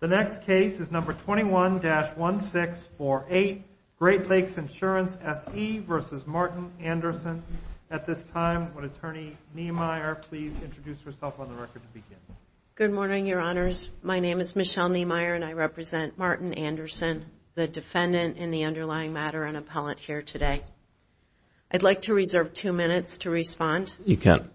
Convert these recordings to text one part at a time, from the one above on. The next case is number 21-1648, Great Lakes Insurance SE v. Martin Andersson. At this time, would Attorney Niemeyer please introduce herself on the record to begin? Good morning, Your Honors. My name is Michelle Niemeyer, and I represent Martin Andersson, the defendant in the underlying matter and appellant here today. I'd like to reserve two minutes to respond. You can.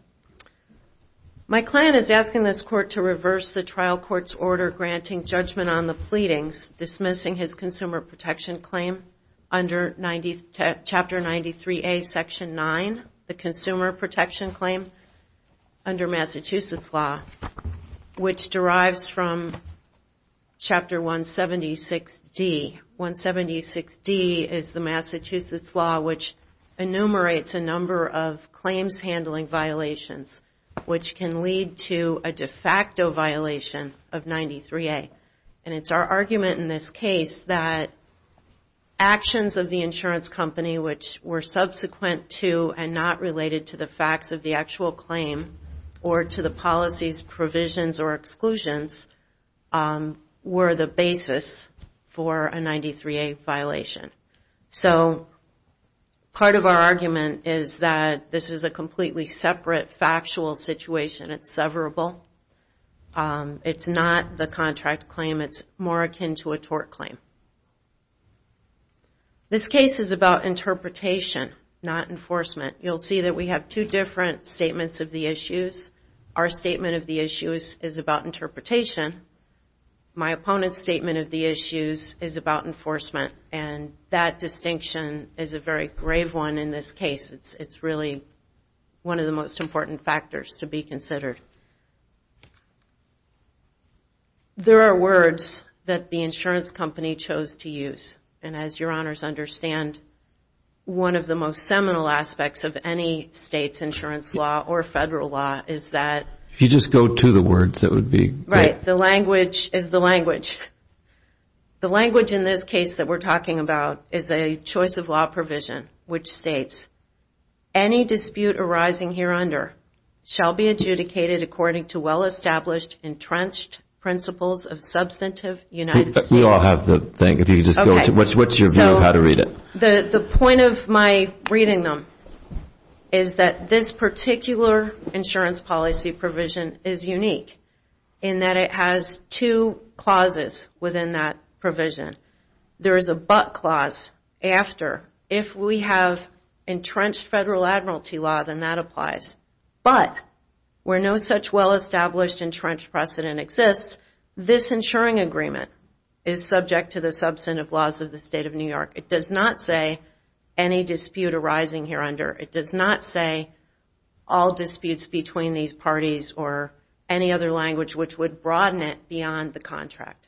My client is asking this court to reverse the trial court's order granting judgment on the pleadings, dismissing his consumer protection claim under Chapter 93A, Section 9, the consumer protection claim under Massachusetts law, which derives from Chapter 176D. 176D is the Massachusetts law, which enumerates a number of claims handling violations, which can lead to a de facto violation of 93A. And it's our argument in this case that actions of the insurance company, which were subsequent to and not related to the facts of the actual claim or to the policy's provisions or exclusions, were the basis for a 93A violation. So part of our argument is that this is a completely separate, factual situation. It's severable. It's not the contract claim. It's more akin to a tort claim. This case is about interpretation, not enforcement. You'll see that we have two different statements of the issues. Our statement of the issues is about interpretation. My opponent's statement of the issues is about enforcement. And that distinction is a very grave one in this case. It's really one of the most important factors to be considered. There are words that the insurance company chose to use. And as your honors understand, one of the most seminal aspects of any state's insurance law or federal law is that... If you just go to the words, it would be... Right. The language is the language. The language in this case that we're talking about is a choice of law provision, which states, any dispute arising here under shall be adjudicated according to well-established, entrenched principles of substantive United States... We all have the thing. What's your view of how to read it? The point of my reading them is that this particular insurance policy provision is unique in that it has two clauses within that provision. There is a but clause after. If we have entrenched federal admiralty law, then that applies. But where no such well-established entrenched precedent exists, this insuring agreement is subject to the substantive laws of the State of New York. It does not say any dispute arising here under. It does not say all disputes between these parties or any other language which would broaden it beyond the contract.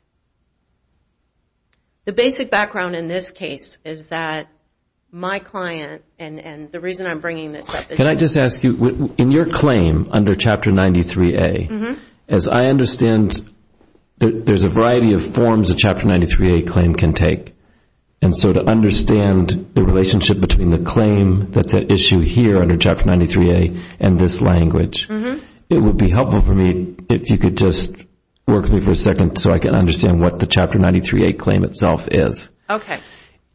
The basic background in this case is that my client and the reason I'm bringing this up... Can I just ask you, in your claim under Chapter 93A, as I understand there's a variety of forms a Chapter 93A claim can take, and so to understand the relationship between the claim that's at issue here under Chapter 93A and this language, it would be helpful for me if you could just work with me for a second so I can understand what the Chapter 93A claim itself is. Okay.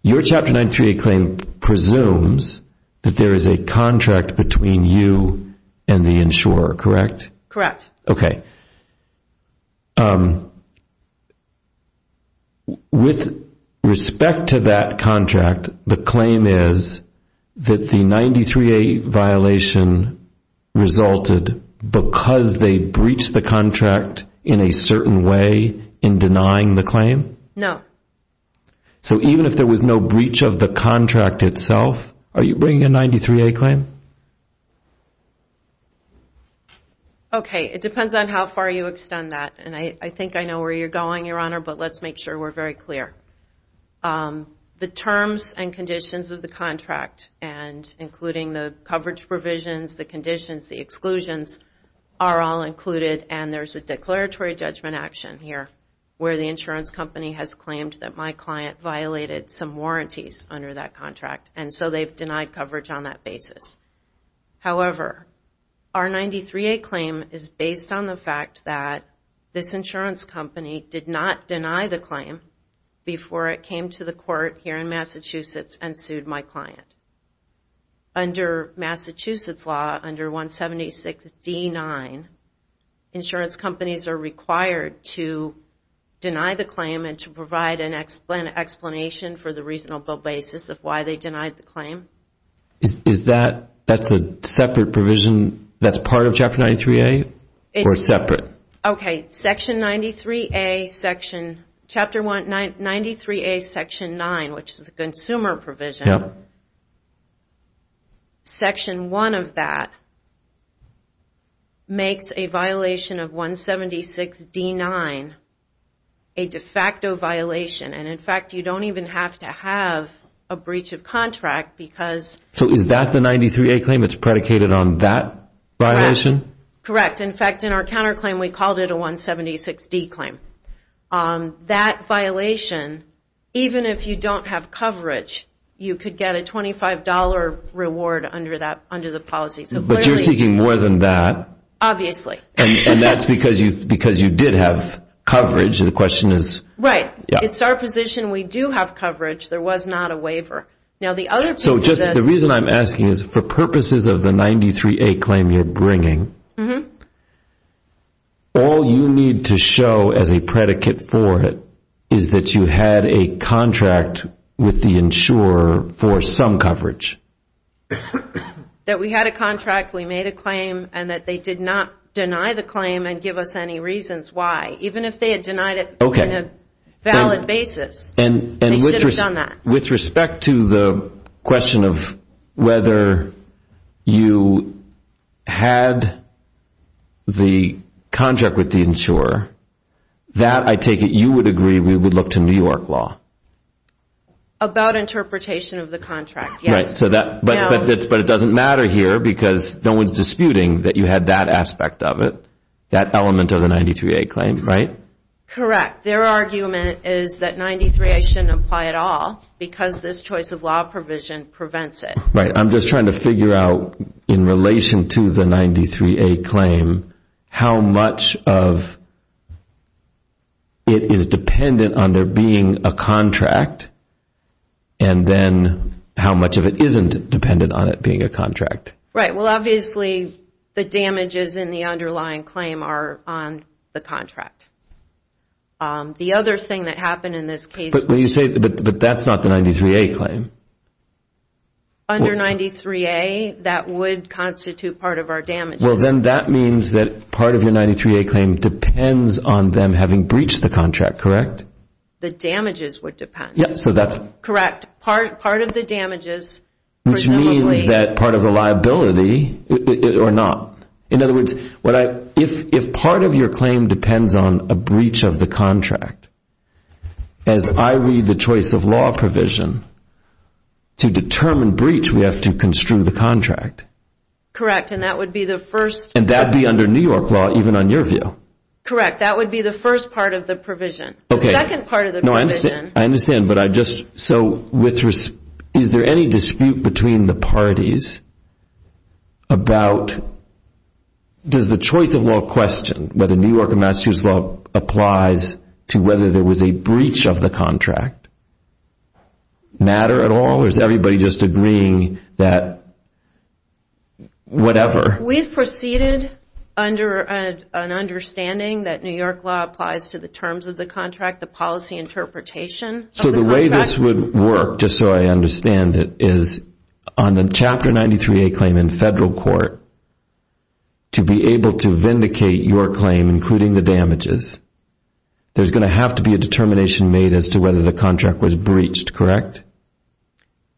Your Chapter 93A claim presumes that there is a contract between you and the insurer, correct? Correct. Okay. With respect to that contract, the claim is that the 93A violation resulted because they breached the contract in a certain way in denying the claim? No. So even if there was no breach of the contract itself, are you bringing a 93A claim? Okay. It depends on how far you extend that, and I think I know where you're going, Your Honor, but let's make sure we're very clear. The terms and conditions of the contract, including the coverage provisions, the conditions, the exclusions are all included, and there's a declaratory judgment action here where the insurance company has claimed that my client violated some warranties under that contract, and so they've denied coverage on that basis. However, our 93A claim is based on the fact that this insurance company did not deny the claim before it came to the court here in Massachusetts and sued my client. Under Massachusetts law, under 176D9, insurance companies are required to deny the claim and to provide an explanation for the reasonable basis of why they denied the claim. Is that a separate provision that's part of Chapter 93A or separate? Okay. Section 93A, Section 9, which is the consumer provision, Section 1 of that makes a violation of 176D9 a de facto violation, and in fact you don't even have to have a breach of contract because... So is that the 93A claim that's predicated on that violation? Correct. In fact, in our counterclaim we called it a 176D claim. That violation, even if you don't have coverage, you could get a $25 reward under the policy. But you're seeking more than that. Obviously. And that's because you did have coverage. The question is... Right. It's our position we do have coverage. There was not a waiver. The reason I'm asking is for purposes of the 93A claim you're bringing, all you need to show as a predicate for it is that you had a contract with the insurer for some coverage. That we had a contract, we made a claim, and that they did not deny the claim and give us any reasons why, even if they had denied it on a valid basis. They should have done that. With respect to the question of whether you had the contract with the insurer, that I take it you would agree we would look to New York law. About interpretation of the contract, yes. But it doesn't matter here because no one's disputing that you had that aspect of it, that element of the 93A claim, right? Correct. Their argument is that 93A shouldn't apply at all because this choice of law provision prevents it. Right. I'm just trying to figure out in relation to the 93A claim how much of it is dependent on there being a contract and then how much of it isn't dependent on it being a contract. Right. Well, obviously the damages in the underlying claim are on the contract. The other thing that happened in this case was- But that's not the 93A claim. Under 93A, that would constitute part of our damages. Well, then that means that part of your 93A claim depends on them having breached the contract, correct? The damages would depend. Correct. Which means that part of the liability or not. In other words, if part of your claim depends on a breach of the contract, as I read the choice of law provision, to determine breach we have to construe the contract. Correct. And that would be the first- And that would be under New York law even on your view. Correct. That would be the first part of the provision. The second part of the provision- Is there any dispute between the parties about- Does the choice of law question whether New York and Massachusetts law applies to whether there was a breach of the contract matter at all? Or is everybody just agreeing that whatever? We've proceeded under an understanding that New York law applies to the terms of the contract, the policy interpretation of the contract. The way this would work, just so I understand it, is on a Chapter 93A claim in federal court, to be able to vindicate your claim, including the damages, there's going to have to be a determination made as to whether the contract was breached, correct?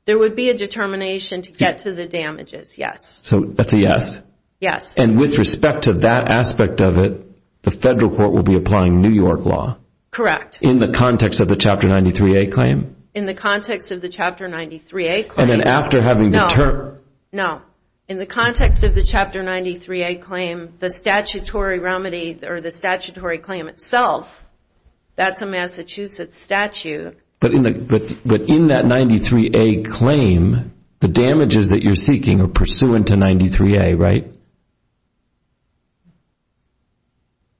There would be a determination to get to the damages, yes. So that's a yes? Yes. And with respect to that aspect of it, the federal court will be applying New York law? Correct. In the context of the Chapter 93A claim? In the context of the Chapter 93A claim. And then after having determined- No, no. In the context of the Chapter 93A claim, the statutory remedy or the statutory claim itself, that's a Massachusetts statute. But in that 93A claim, the damages that you're seeking are pursuant to 93A, right?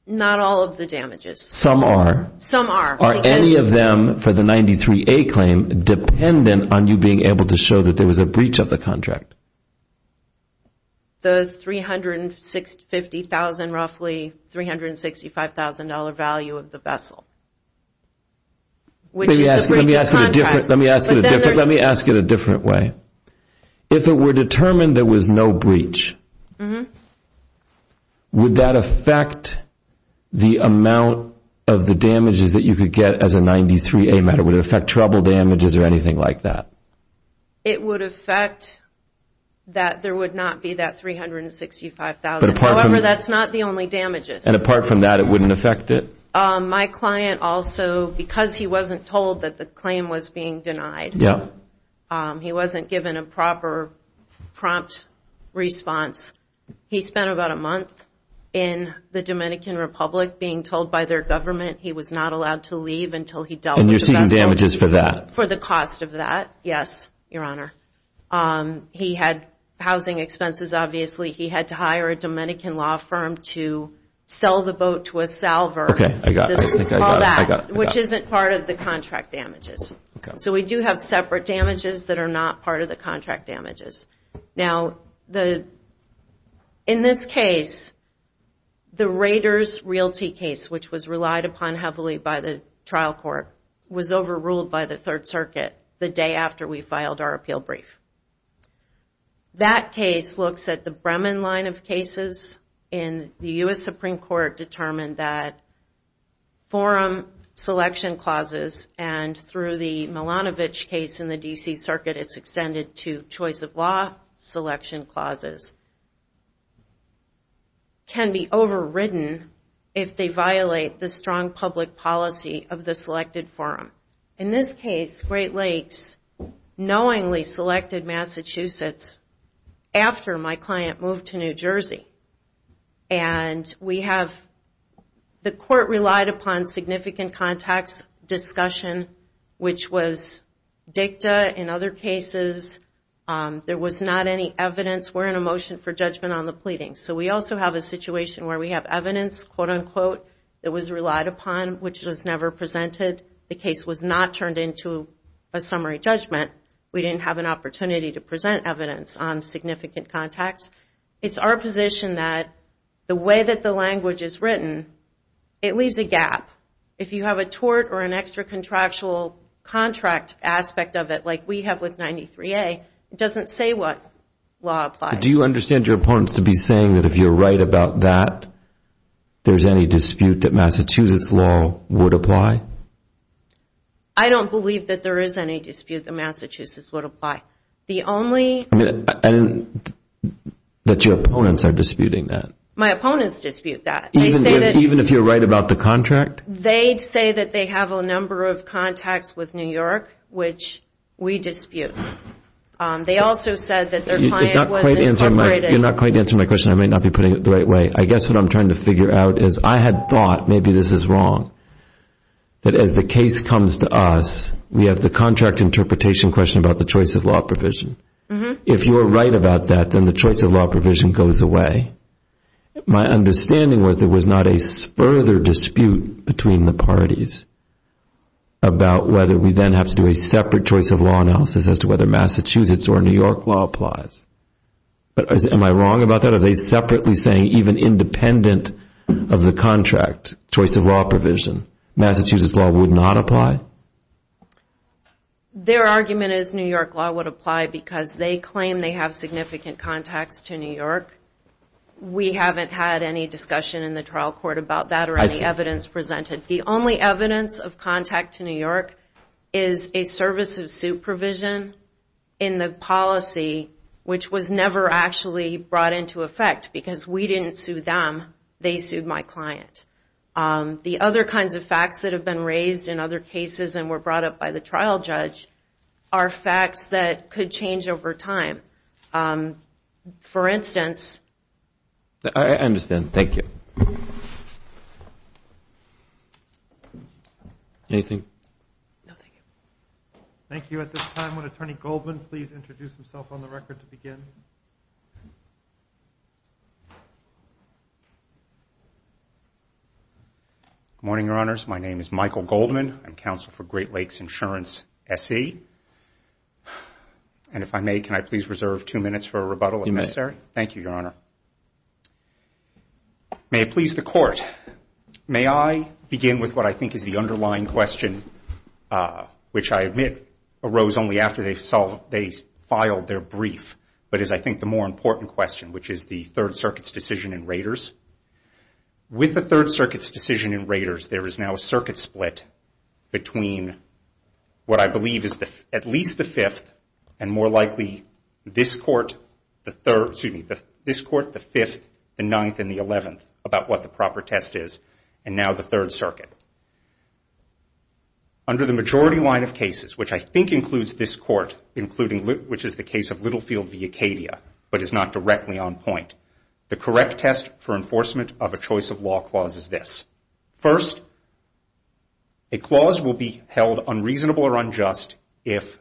Not all of the damages. Some are? Some are. Are any of them for the 93A claim dependent on you being able to show that there was a breach of the contract? The $350,000, roughly $365,000 value of the vessel. Let me ask it a different way. If it were determined there was no breach, would that affect the amount of the damages that you could get as a 93A matter? Would it affect trouble damages or anything like that? It would affect that there would not be that $365,000. However, that's not the only damages. And apart from that, it wouldn't affect it? My client also, because he wasn't told that the claim was being denied, he wasn't given a proper prompt response, he spent about a month in the Dominican Republic being told by their government he was not allowed to leave until he dealt with the vessel. And you're seeking damages for that? For the cost of that, yes, Your Honor. He had housing expenses, obviously. He had to hire a Dominican law firm to sell the boat to a salver, which isn't part of the contract damages. So we do have separate damages that are not part of the contract damages. Now, in this case, the Raiders Realty case, which was relied upon heavily by the trial court, was overruled by the Third Circuit the day after we filed our appeal brief. That case looks at the Bremen line of cases. And the U.S. Supreme Court determined that forum selection clauses and through the Milanovic case in the D.C. Circuit, it's extended to choice of law selection clauses, can be overridden if they violate the strong public policy of the selected forum. In this case, Great Lakes knowingly selected Massachusetts after my client moved to New Jersey. And we have... significant contacts discussion, which was dicta in other cases. There was not any evidence. We're in a motion for judgment on the pleadings. So we also have a situation where we have evidence, quote-unquote, that was relied upon, which was never presented. The case was not turned into a summary judgment. We didn't have an opportunity to present evidence on significant contacts. It's our position that the way that the language is written, it leaves a gap. If you have a tort or an extra contractual contract aspect of it, like we have with 93A, it doesn't say what law applies. Do you understand your opponents to be saying that if you're right about that, there's any dispute that Massachusetts law would apply? I don't believe that there is any dispute that Massachusetts would apply. The only... That your opponents are disputing that. My opponents dispute that. Even if you're right about the contract? They say that they have a number of contacts with New York, which we dispute. They also said that their client was incorporated. You're not quite answering my question. I may not be putting it the right way. I guess what I'm trying to figure out is I had thought, maybe this is wrong, that as the case comes to us, we have the contract interpretation question about the choice of law provision. If you are right about that, then the choice of law provision goes away. My understanding was there was not a further dispute between the parties about whether we then have to do a separate choice of law analysis as to whether Massachusetts or New York law applies. Am I wrong about that? Are they separately saying, even independent of the contract, choice of law provision, Massachusetts law would not apply? Their argument is New York law would apply because they claim they have significant contacts to New York. We haven't had any discussion in the trial court about that or any evidence presented. The only evidence of contact to New York is a service of suit provision in the policy, which was never actually brought into effect because we didn't sue them. They sued my client. The other kinds of facts that have been raised in other cases and were brought up by the trial judge are facts that could change over time. For instance... I understand. Thank you. Anything? No, thank you. Thank you. At this time, would Attorney Goldman please introduce himself on the record to begin? Good morning, Your Honors. My name is Michael Goldman. I'm counsel for Great Lakes Insurance, SC. And if I may, can I please reserve two minutes for a rebuttal, if necessary? You may. Thank you, Your Honor. May it please the Court, may I begin with what I think is the underlying question, which I admit arose only after they filed their brief, but is I think the more important question, which is the Third Circuit's decision in Raiders. With the Third Circuit's decision in Raiders, there is now a circuit split between what I believe is at least the Fifth and more likely this Court, the Fifth, the Ninth, and the Eleventh, about what the proper test is, and now the Third Circuit. Under the majority line of cases, which I think includes this Court, which is the case of Littlefield v. Acadia, but is not directly on point, the correct test for enforcement of a choice of law clause is this. First, a clause will be held unreasonable or unjust if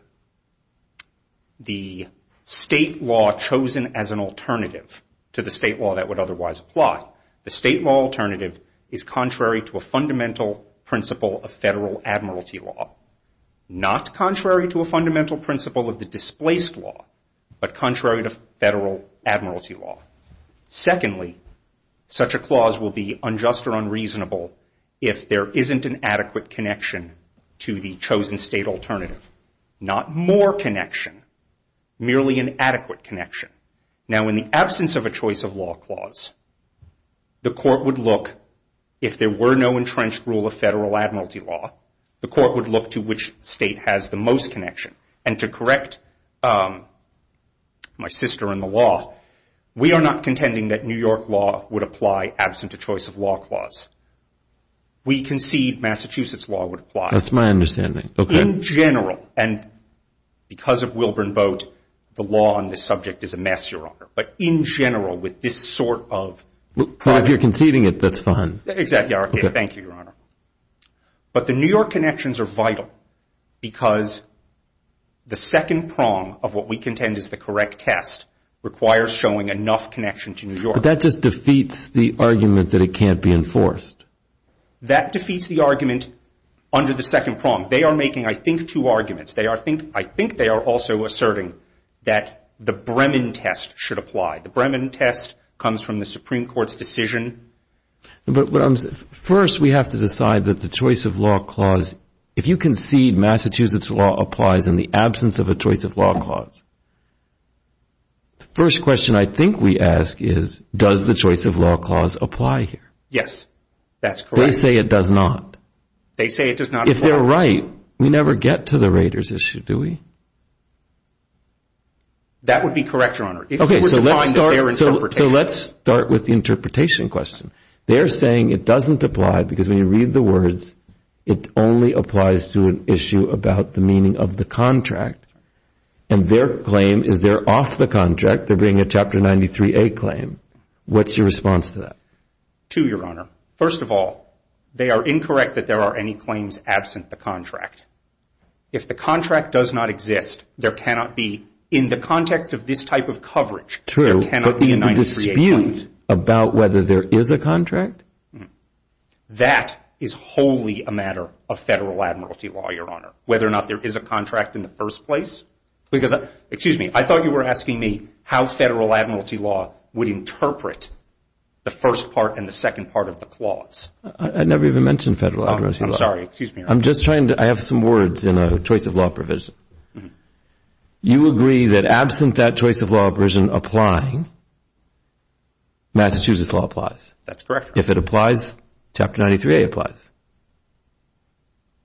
the state law chosen as an alternative to the state law that would otherwise apply, the state law alternative, is contrary to a fundamental principle of federal admiralty law. Not contrary to a fundamental principle of the displaced law, but contrary to federal admiralty law. Secondly, such a clause will be unjust or unreasonable if there isn't an adequate connection to the chosen state alternative. Not more connection, merely an adequate connection. Now, in the absence of a choice of law clause, the Court would look, if there were no entrenched rule of federal admiralty law, the Court would look to which state has the most connection. And to correct my sister in the law, we are not contending that New York law would apply absent a choice of law clause. We concede Massachusetts law would apply. That's my understanding. In general, and because of Wilburn Boat, the law on this subject is a mess, Your Honor. But in general, with this sort of... But if you're conceding it, that's fine. Exactly, Your Honor. Thank you, Your Honor. But the New York connections are vital because the second prong of what we contend is the correct test requires showing enough connection to New York. But that just defeats the argument that it can't be enforced. That defeats the argument under the second prong. They are making, I think, two arguments. I think they are also asserting that the Bremen test should apply. The Bremen test comes from the Supreme Court's decision. But first, we have to decide that the choice of law clause... If you concede Massachusetts law applies in the absence of a choice of law clause, the first question I think we ask is, does the choice of law clause apply here? Yes, that's correct. They say it does not. They say it does not apply. If they're right, we never get to the Raiders issue, do we? That would be correct, Your Honor. Okay, so let's start with the interpretation question. They're saying it doesn't apply because when you read the words, it only applies to an issue about the meaning of the contract. And their claim is they're off the contract. They're bringing a Chapter 93A claim. What's your response to that? Two, Your Honor. First of all, they are incorrect that there are any claims absent the contract. If the contract does not exist, there cannot be, in the context of this type of coverage, there cannot be a 93A claim. True, but the dispute about whether there is a contract? That is wholly a matter of federal admiralty law, Your Honor. Whether or not there is a contract in the first place. Because, excuse me, I thought you were asking me how federal admiralty law would interpret the first part and the second part of the clause. I never even mentioned federal admiralty law. I'm sorry, excuse me, Your Honor. I'm just trying to, I have some words in a choice of law provision. You agree that absent that choice of law provision applying, Massachusetts law applies. That's correct, Your Honor. If it applies, Chapter 93A applies.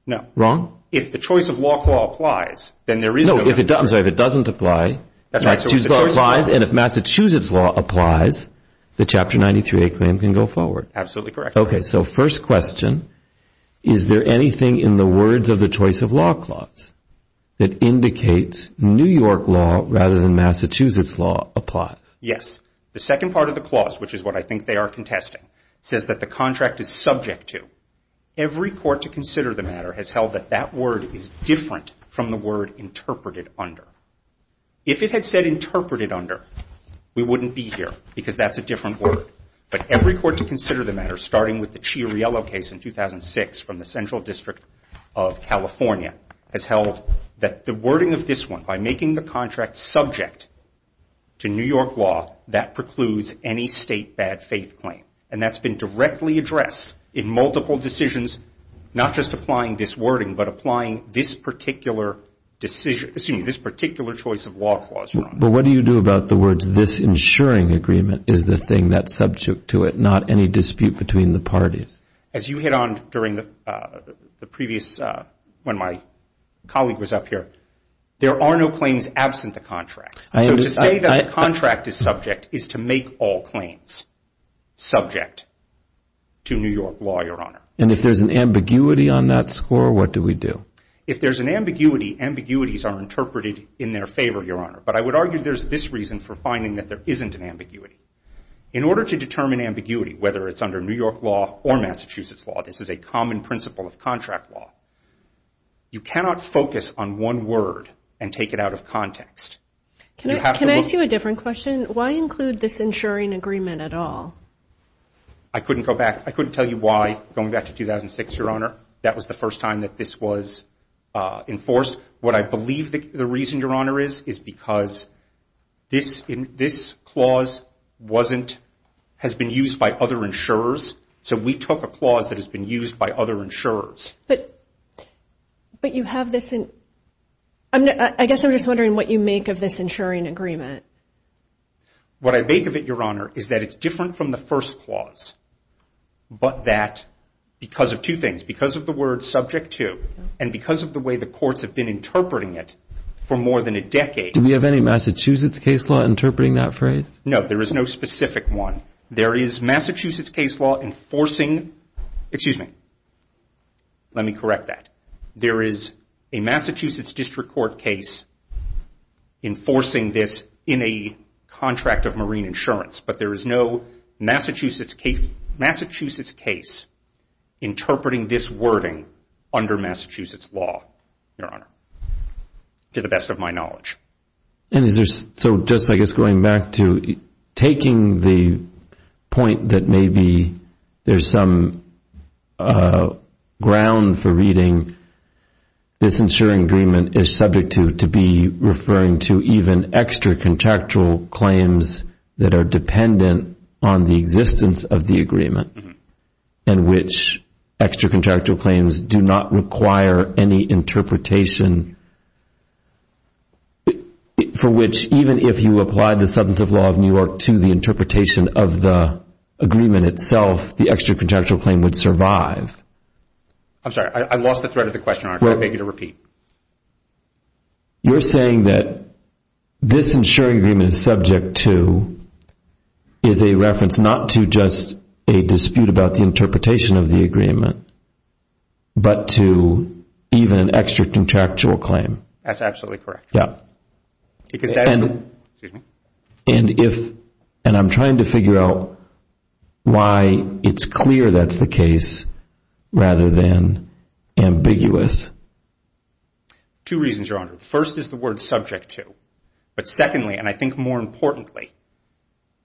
No. Wrong? If the choice of law clause applies, then there is no matter. No, if it doesn't apply, Massachusetts law applies, and if Massachusetts law applies, the Chapter 93A claim can go forward. Absolutely correct. Okay, so first question, is there anything in the words of the choice of law clause that indicates New York law rather than Massachusetts law applies? Yes. The second part of the clause, which is what I think they are contesting, says that the contract is subject to. Every court to consider the matter has held that that word is different from the word interpreted under. If it had said interpreted under, we wouldn't be here because that's a different word. But every court to consider the matter, starting with the Chiariello case in 2006 from the Central District of California, has held that the wording of this one, by making the contract subject to New York law, that precludes any state bad faith claim. And that's been directly addressed in multiple decisions, not just applying this wording, but applying this particular choice of law clause. But what do you do about the words, this ensuring agreement is the thing that's subject to it, not any dispute between the parties? As you hit on during the previous, when my colleague was up here, there are no claims absent the contract. So to say that a contract is subject is to make all claims subject to New York law, Your Honor. And if there's an ambiguity on that score, what do we do? If there's an ambiguity, ambiguities are interpreted in their favor, Your Honor. But I would argue there's this reason for finding that there isn't an ambiguity. In order to determine ambiguity, whether it's under New York law or Massachusetts law, this is a common principle of contract law, you cannot focus on one word and take it out of context. Can I ask you a different question? Why include this ensuring agreement at all? I couldn't go back. I couldn't tell you why. Going back to 2006, Your Honor, that was the first time that this was enforced. What I believe the reason, Your Honor, is is because this clause has been used by other insurers. So we took a clause that has been used by other insurers. But you have this in... I guess I'm just wondering what you make of this ensuring agreement. What I make of it, Your Honor, is that it's different from the first clause, but that because of two things, because of the word subject to and because of the way the courts have been interpreting it for more than a decade... Do we have any Massachusetts case law interpreting that phrase? No, there is no specific one. There is Massachusetts case law enforcing... Let me correct that. There is a Massachusetts district court case enforcing this in a contract of marine insurance, but there is no Massachusetts case interpreting this wording under Massachusetts law, Your Honor, to the best of my knowledge. And is there... So just, I guess, going back to taking the point that maybe there's some ground for reading this insuring agreement is subject to to be referring to even extracontractual claims that are dependent on the existence of the agreement and which extracontractual claims do not require any interpretation for which even if you apply the substantive law of New York to the interpretation of the agreement itself, the extracontractual claim would survive. I'm sorry. I lost the thread of the question, Your Honor. I beg you to repeat. You're saying that this insuring agreement is subject to is a reference not to just a dispute about the interpretation of the agreement, but to even an extracontractual claim. That's absolutely correct. Yeah. And if... And I'm trying to figure out why it's clear that's the case rather than ambiguous. Two reasons, Your Honor. First is the word subject to. But secondly, and I think more importantly,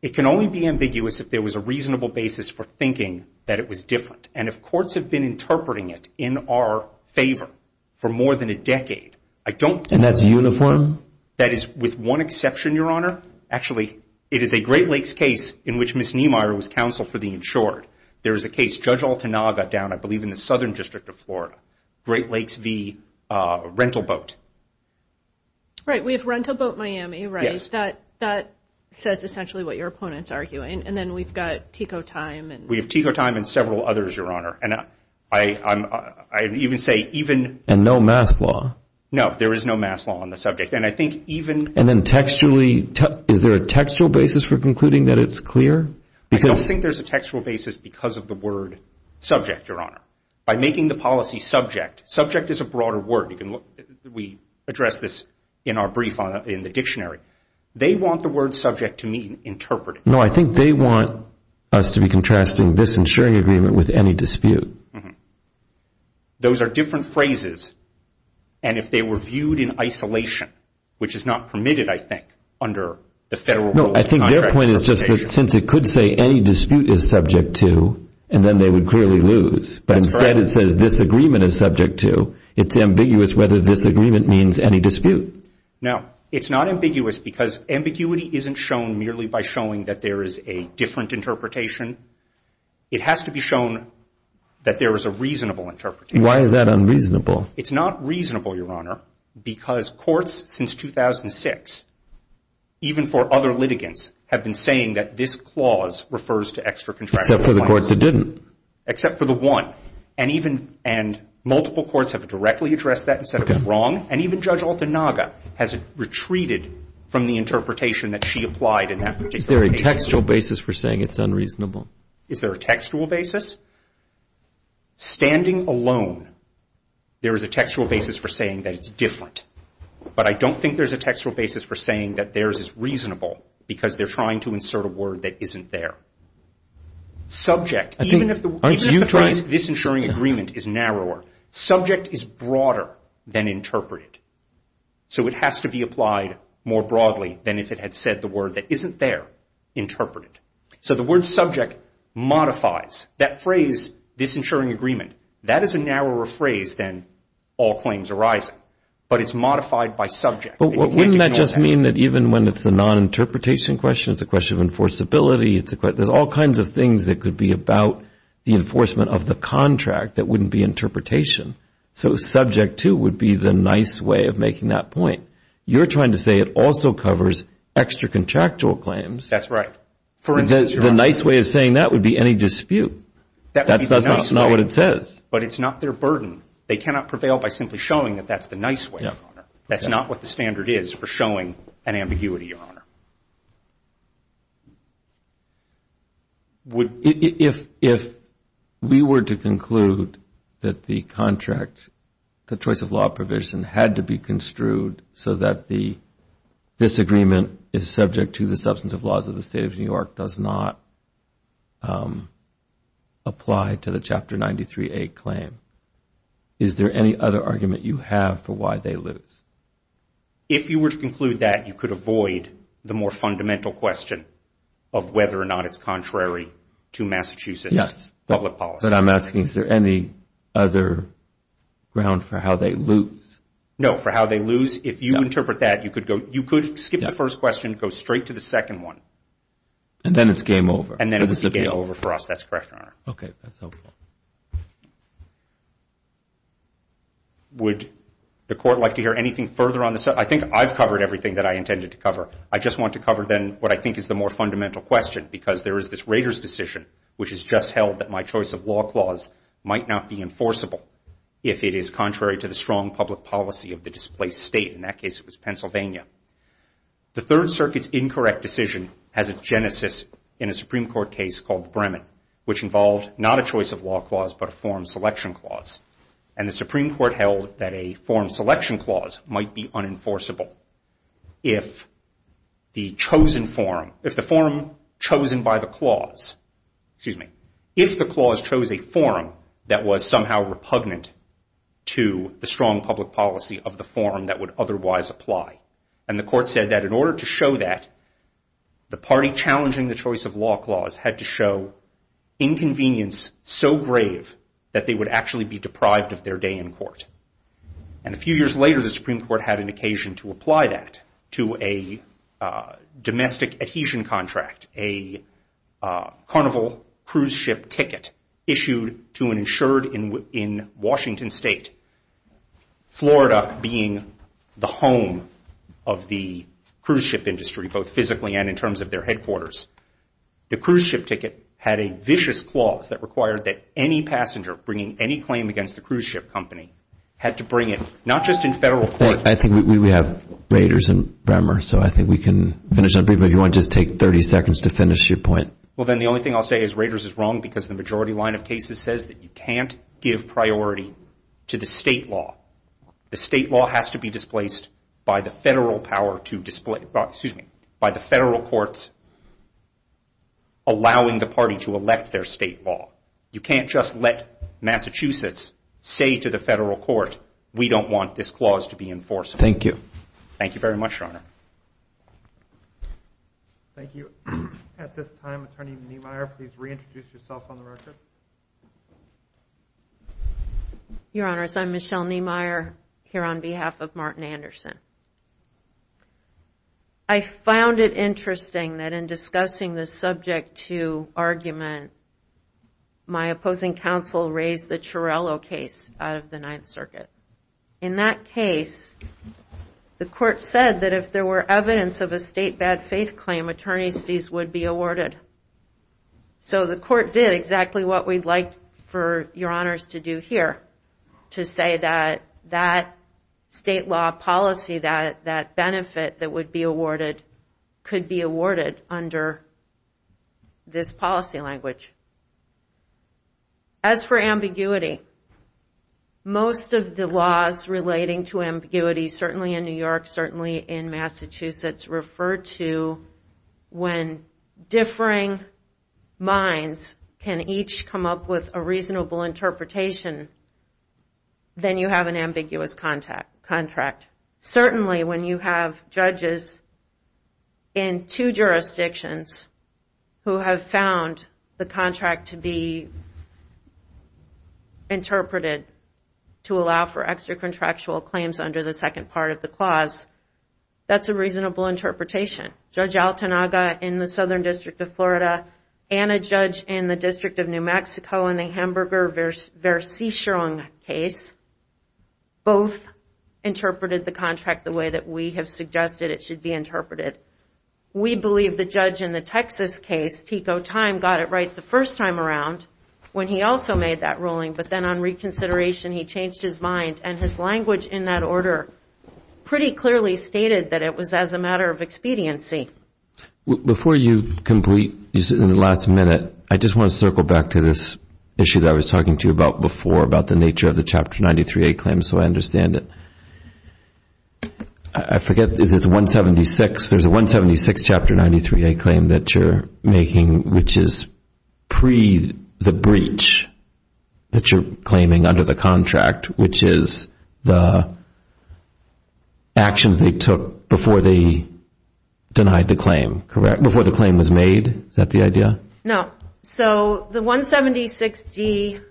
it can only be ambiguous if there was a reasonable basis for thinking that it was different. And if courts have been interpreting it in our favor for more than a decade, I don't think... And that's uniform? That is with one exception, Your Honor. Actually, it is a Great Lakes case in which Ms. Niemeyer was counsel for the insured. There is a case, Judge Altanaga down, I believe, in the Southern District of Florida, Great Lakes v. Rental Boat. Right. We have Rental Boat Miami, right? Yes. That says essentially what your opponent's arguing. And then we've got TECO Time and... We have TECO Time and several others, Your Honor. And I even say even... And no mass law. No, there is no mass law on the subject. And I think even... And then textually... Is there a textual basis for concluding that it's clear? I don't think there's a textual basis because of the word subject, Your Honor. By making the policy subject, subject is a broader word. You can look... We address this in our brief in the dictionary. They want the word subject to mean interpreted. No, I think they want us to be contrasting this insuring agreement with any dispute. Those are different phrases. And if they were viewed in isolation, which is not permitted, I think, under the federal rules... No, I think their point is just that since it could say any dispute is subject to and then they would clearly lose. That's correct. But instead it says this agreement is subject to. It's ambiguous whether this agreement means any dispute. No, it's not ambiguous because ambiguity isn't shown merely by showing that there is a different interpretation. It has to be shown that there is a reasonable interpretation. Why is that unreasonable? It's not reasonable, Your Honor, because courts since 2006, even for other litigants, have been saying that this clause refers to extra contractual... Except for the courts that didn't. Except for the one. And even... And multiple courts have directly addressed that and said it was wrong. And even Judge Altanaga has retreated from the interpretation that she applied in that particular case. Is there a textual basis for saying it's unreasonable? Is there a textual basis? Standing alone, there is a textual basis for saying that it's different. But I don't think there's a textual basis for saying that theirs is reasonable because they're trying to insert a word that isn't there. Subject... Even if the phrase disinsuring agreement is narrower, subject is broader than interpreted. So it has to be applied more broadly than if it had said the word that isn't there, interpreted. So the word subject modifies. That phrase disinsuring agreement, that is a narrower phrase than all claims arising. But it's modified by subject. But wouldn't that just mean that even when it's a non-interpretation question, it's a question of enforceability, there's all kinds of things that could be about the enforcement of the contract that wouldn't be interpretation. So subject, too, would be the nice way of making that point. You're trying to say it also covers extra contractual claims... That's right. The nice way of saying that would be any dispute. That's not what it says. But it's not their burden. They cannot prevail by simply showing that that's the nice way, Your Honor. That's not what the standard is for showing an ambiguity, Your Honor. If we were to conclude that the contract, the choice of law provision, had to be construed so that the disagreement is subject to the substance of laws of the State of New York does not apply to the Chapter 93A claim, is there any other argument you have for why they lose? If you were to conclude that, you could avoid the more fundamental question of whether or not it's contrary to Massachusetts public policy. Yes, but I'm asking is there any other ground for how they lose? No, for how they lose, if you interpret that, you could skip the first question, go straight to the second one. And then it's game over. And then it's game over for us. That's correct, Your Honor. Okay, that's helpful. Would the Court like to hear anything further on this? I think I've covered everything that I intended to cover. I just want to cover then what I think is the more fundamental question because there is this Rader's decision which has just held that my choice of law clause might not be enforceable if it is contrary to the strong public policy of the displaced state. In that case, it was Pennsylvania. The Third Circuit's incorrect decision has a genesis in a Supreme Court case called the Bremen which involved not a choice of law clause but a forum selection clause. And the Supreme Court held that a forum selection clause might be unenforceable if the chosen forum, if the forum chosen by the clause, excuse me, if the clause chose a forum that was somehow repugnant to the strong public policy of the forum that would otherwise apply. And the court said that in order to show that, the party challenging the choice of law clause had to show inconvenience so grave that they would actually be deprived of their day in court. And a few years later, the Supreme Court had an occasion to apply that to a domestic adhesion contract, a carnival cruise ship ticket issued to an insured in Washington State, Florida being the home of the cruise ship industry both physically and in terms of their headquarters. The cruise ship ticket had a vicious clause that required that any passenger bringing any claim against the cruise ship company had to bring it, not just in federal court. I think we have Raiders and Bremer so I think we can finish on Bremer. If you want, just take 30 seconds to finish your point. Well, then the only thing I'll say is Raiders is wrong because the majority line of cases says that you can't give priority to the state law. The state law has to be displaced by the federal power to display, excuse me, by the federal courts allowing the party to elect their state law. You can't just let Massachusetts say to the federal court, we don't want this clause to be enforced. Thank you. Thank you very much, Your Honor. Thank you. At this time, Attorney Niemeyer, please reintroduce yourself on the record. Your Honors, I'm Michelle Niemeyer here on behalf of Martin Anderson. I found it interesting that in discussing the subject to argument, my opposing counsel raised the Chiarello case out of the Ninth Circuit. In that case, the court said that if there were evidence of a state bad faith claim, attorney's fees would be awarded. So the court did exactly what we'd like for Your Honors to do here to say that that state law policy, that benefit that would be awarded, could be awarded under this policy language. As for ambiguity, most of the laws relating to ambiguity, certainly in New York, certainly in Massachusetts, refer to when differing minds can each come up with a reasonable interpretation, then you have an ambiguous contract. Certainly, when you have judges in two jurisdictions who have found the contract to be interpreted to allow for extra contractual claims under the second part of the clause, that's a reasonable interpretation. Judge Altanaga in the Southern District of Florida and a judge in the District of New Mexico in the Hamburger-Versichung case both interpreted the contract the way that we have suggested it should be interpreted. We believe the judge in the Texas case, Tico Thyme, got it right the first time around when he also made that ruling, but then on reconsideration he changed his mind and his language in that order pretty clearly stated that it was as a matter of expediency. Before you complete in the last minute, I just want to circle back to this issue that I was talking to you about before about the nature of the Chapter 93A claim so I understand it. I forget, is it 176? There's a 176 Chapter 93A claim that you're making which is pre the breach that you're claiming under the contract which is the actions they took before they denied the claim, correct? Before the claim was made? Is that the idea? No. So the 176D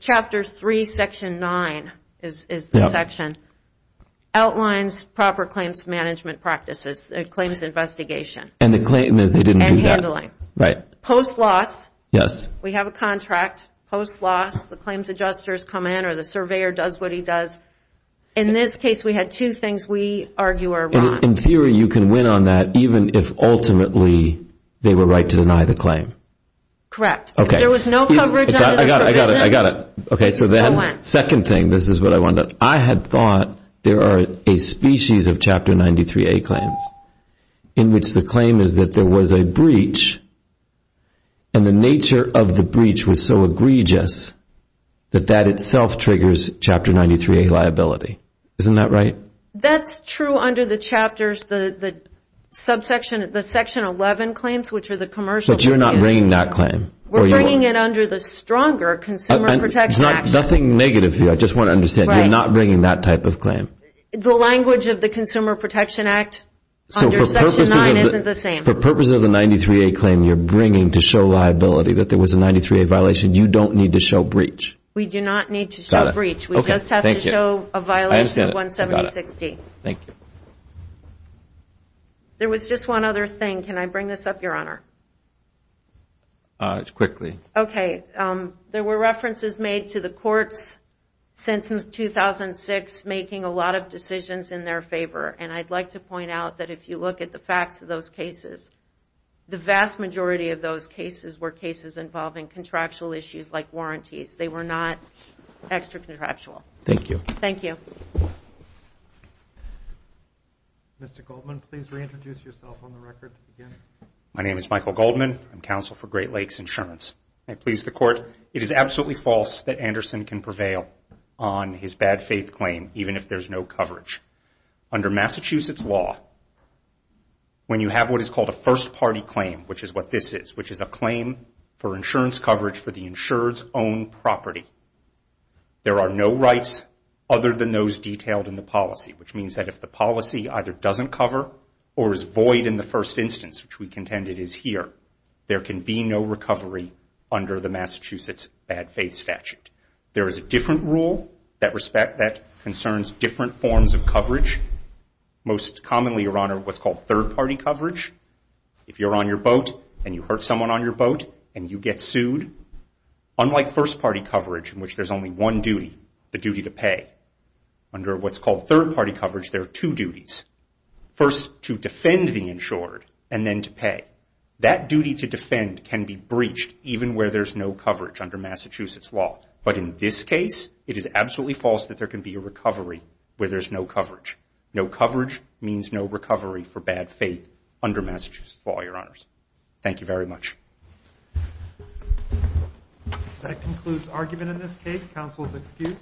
Chapter 3, Section 9 is the section outlines proper claims management practices, claims investigation and handling. Right. Post loss, we have a contract, post loss the claims adjusters come in or the surveyor does what he does. In this case, we had two things we argue are wrong. In theory, you can win on that even if ultimately they were right to deny the claim. Correct. Okay. There was no coverage under the provisions. I got it. I got it. Okay. So then, second thing, this is what I wanted to, I had thought there are a species of Chapter 93A claims in which the claim is that there was a breach and the nature of the breach was so egregious that that itself triggers Chapter 93A liability. Isn't that right? That's true under the chapters, the subsection, the Section 11 claims which are the commercial. But you're not bringing that claim. We're bringing it under the stronger Consumer Protection Act. Nothing negative here. I just want to understand you're not bringing that type of claim. The language of the Consumer Protection Act under Section 9 isn't the same. So for purposes of the 93A claim you're bringing to show liability that there was a 93A violation, you don't need to show breach. We do not need to show breach. We just have to show a violation of 176D. I understand. Thank you. There was just one other thing. Can I bring this up, Your Honor? Quickly. Okay. There were references made to the courts since 2006 making a lot of decisions in their favor. And I'd like to point out of those cases were cases involving contractual issues like warranties. They were not as a matter of fact a matter of fact a matter of fact a matter of fact a matter of fact an extra contractual. Thank you. Thank you. Mr. Goldman, please reintroduce yourself on the record. My name is Michael Goldman. I'm counsel for Great Lakes Insurance. I please the court. It is absolutely false that Anderson can prevail on his bad faith claim even if there's no coverage. Under Massachusetts law when you have what is called a first party claim which is what this is which is a claim for insurance coverage for the insurer's own property. There are no rights other than those detailed in the policy which means that if the policy either doesn't cover or is void in the first instance which we contend it is here there can be no recovery under the Massachusetts bad faith statute. There is a different rule that concerns different forms of coverage. Most commonly, Your Honor, what's called third party coverage. If you're on your boat and you hurt someone on your boat and you get sued unlike first party coverage in which there's only one duty the duty to pay. Under what's called third party coverage there are two duties. First, to defend the insured and then to pay. That duty to defend can be breached even where there's no coverage under Massachusetts law. But in this case it is absolutely false that there can be a recovery where there's no coverage. No coverage means no recovery for bad faith under Massachusetts law, Your Honors. Thank you very much. Thank you. That concludes argument in this case. Counsel is excused.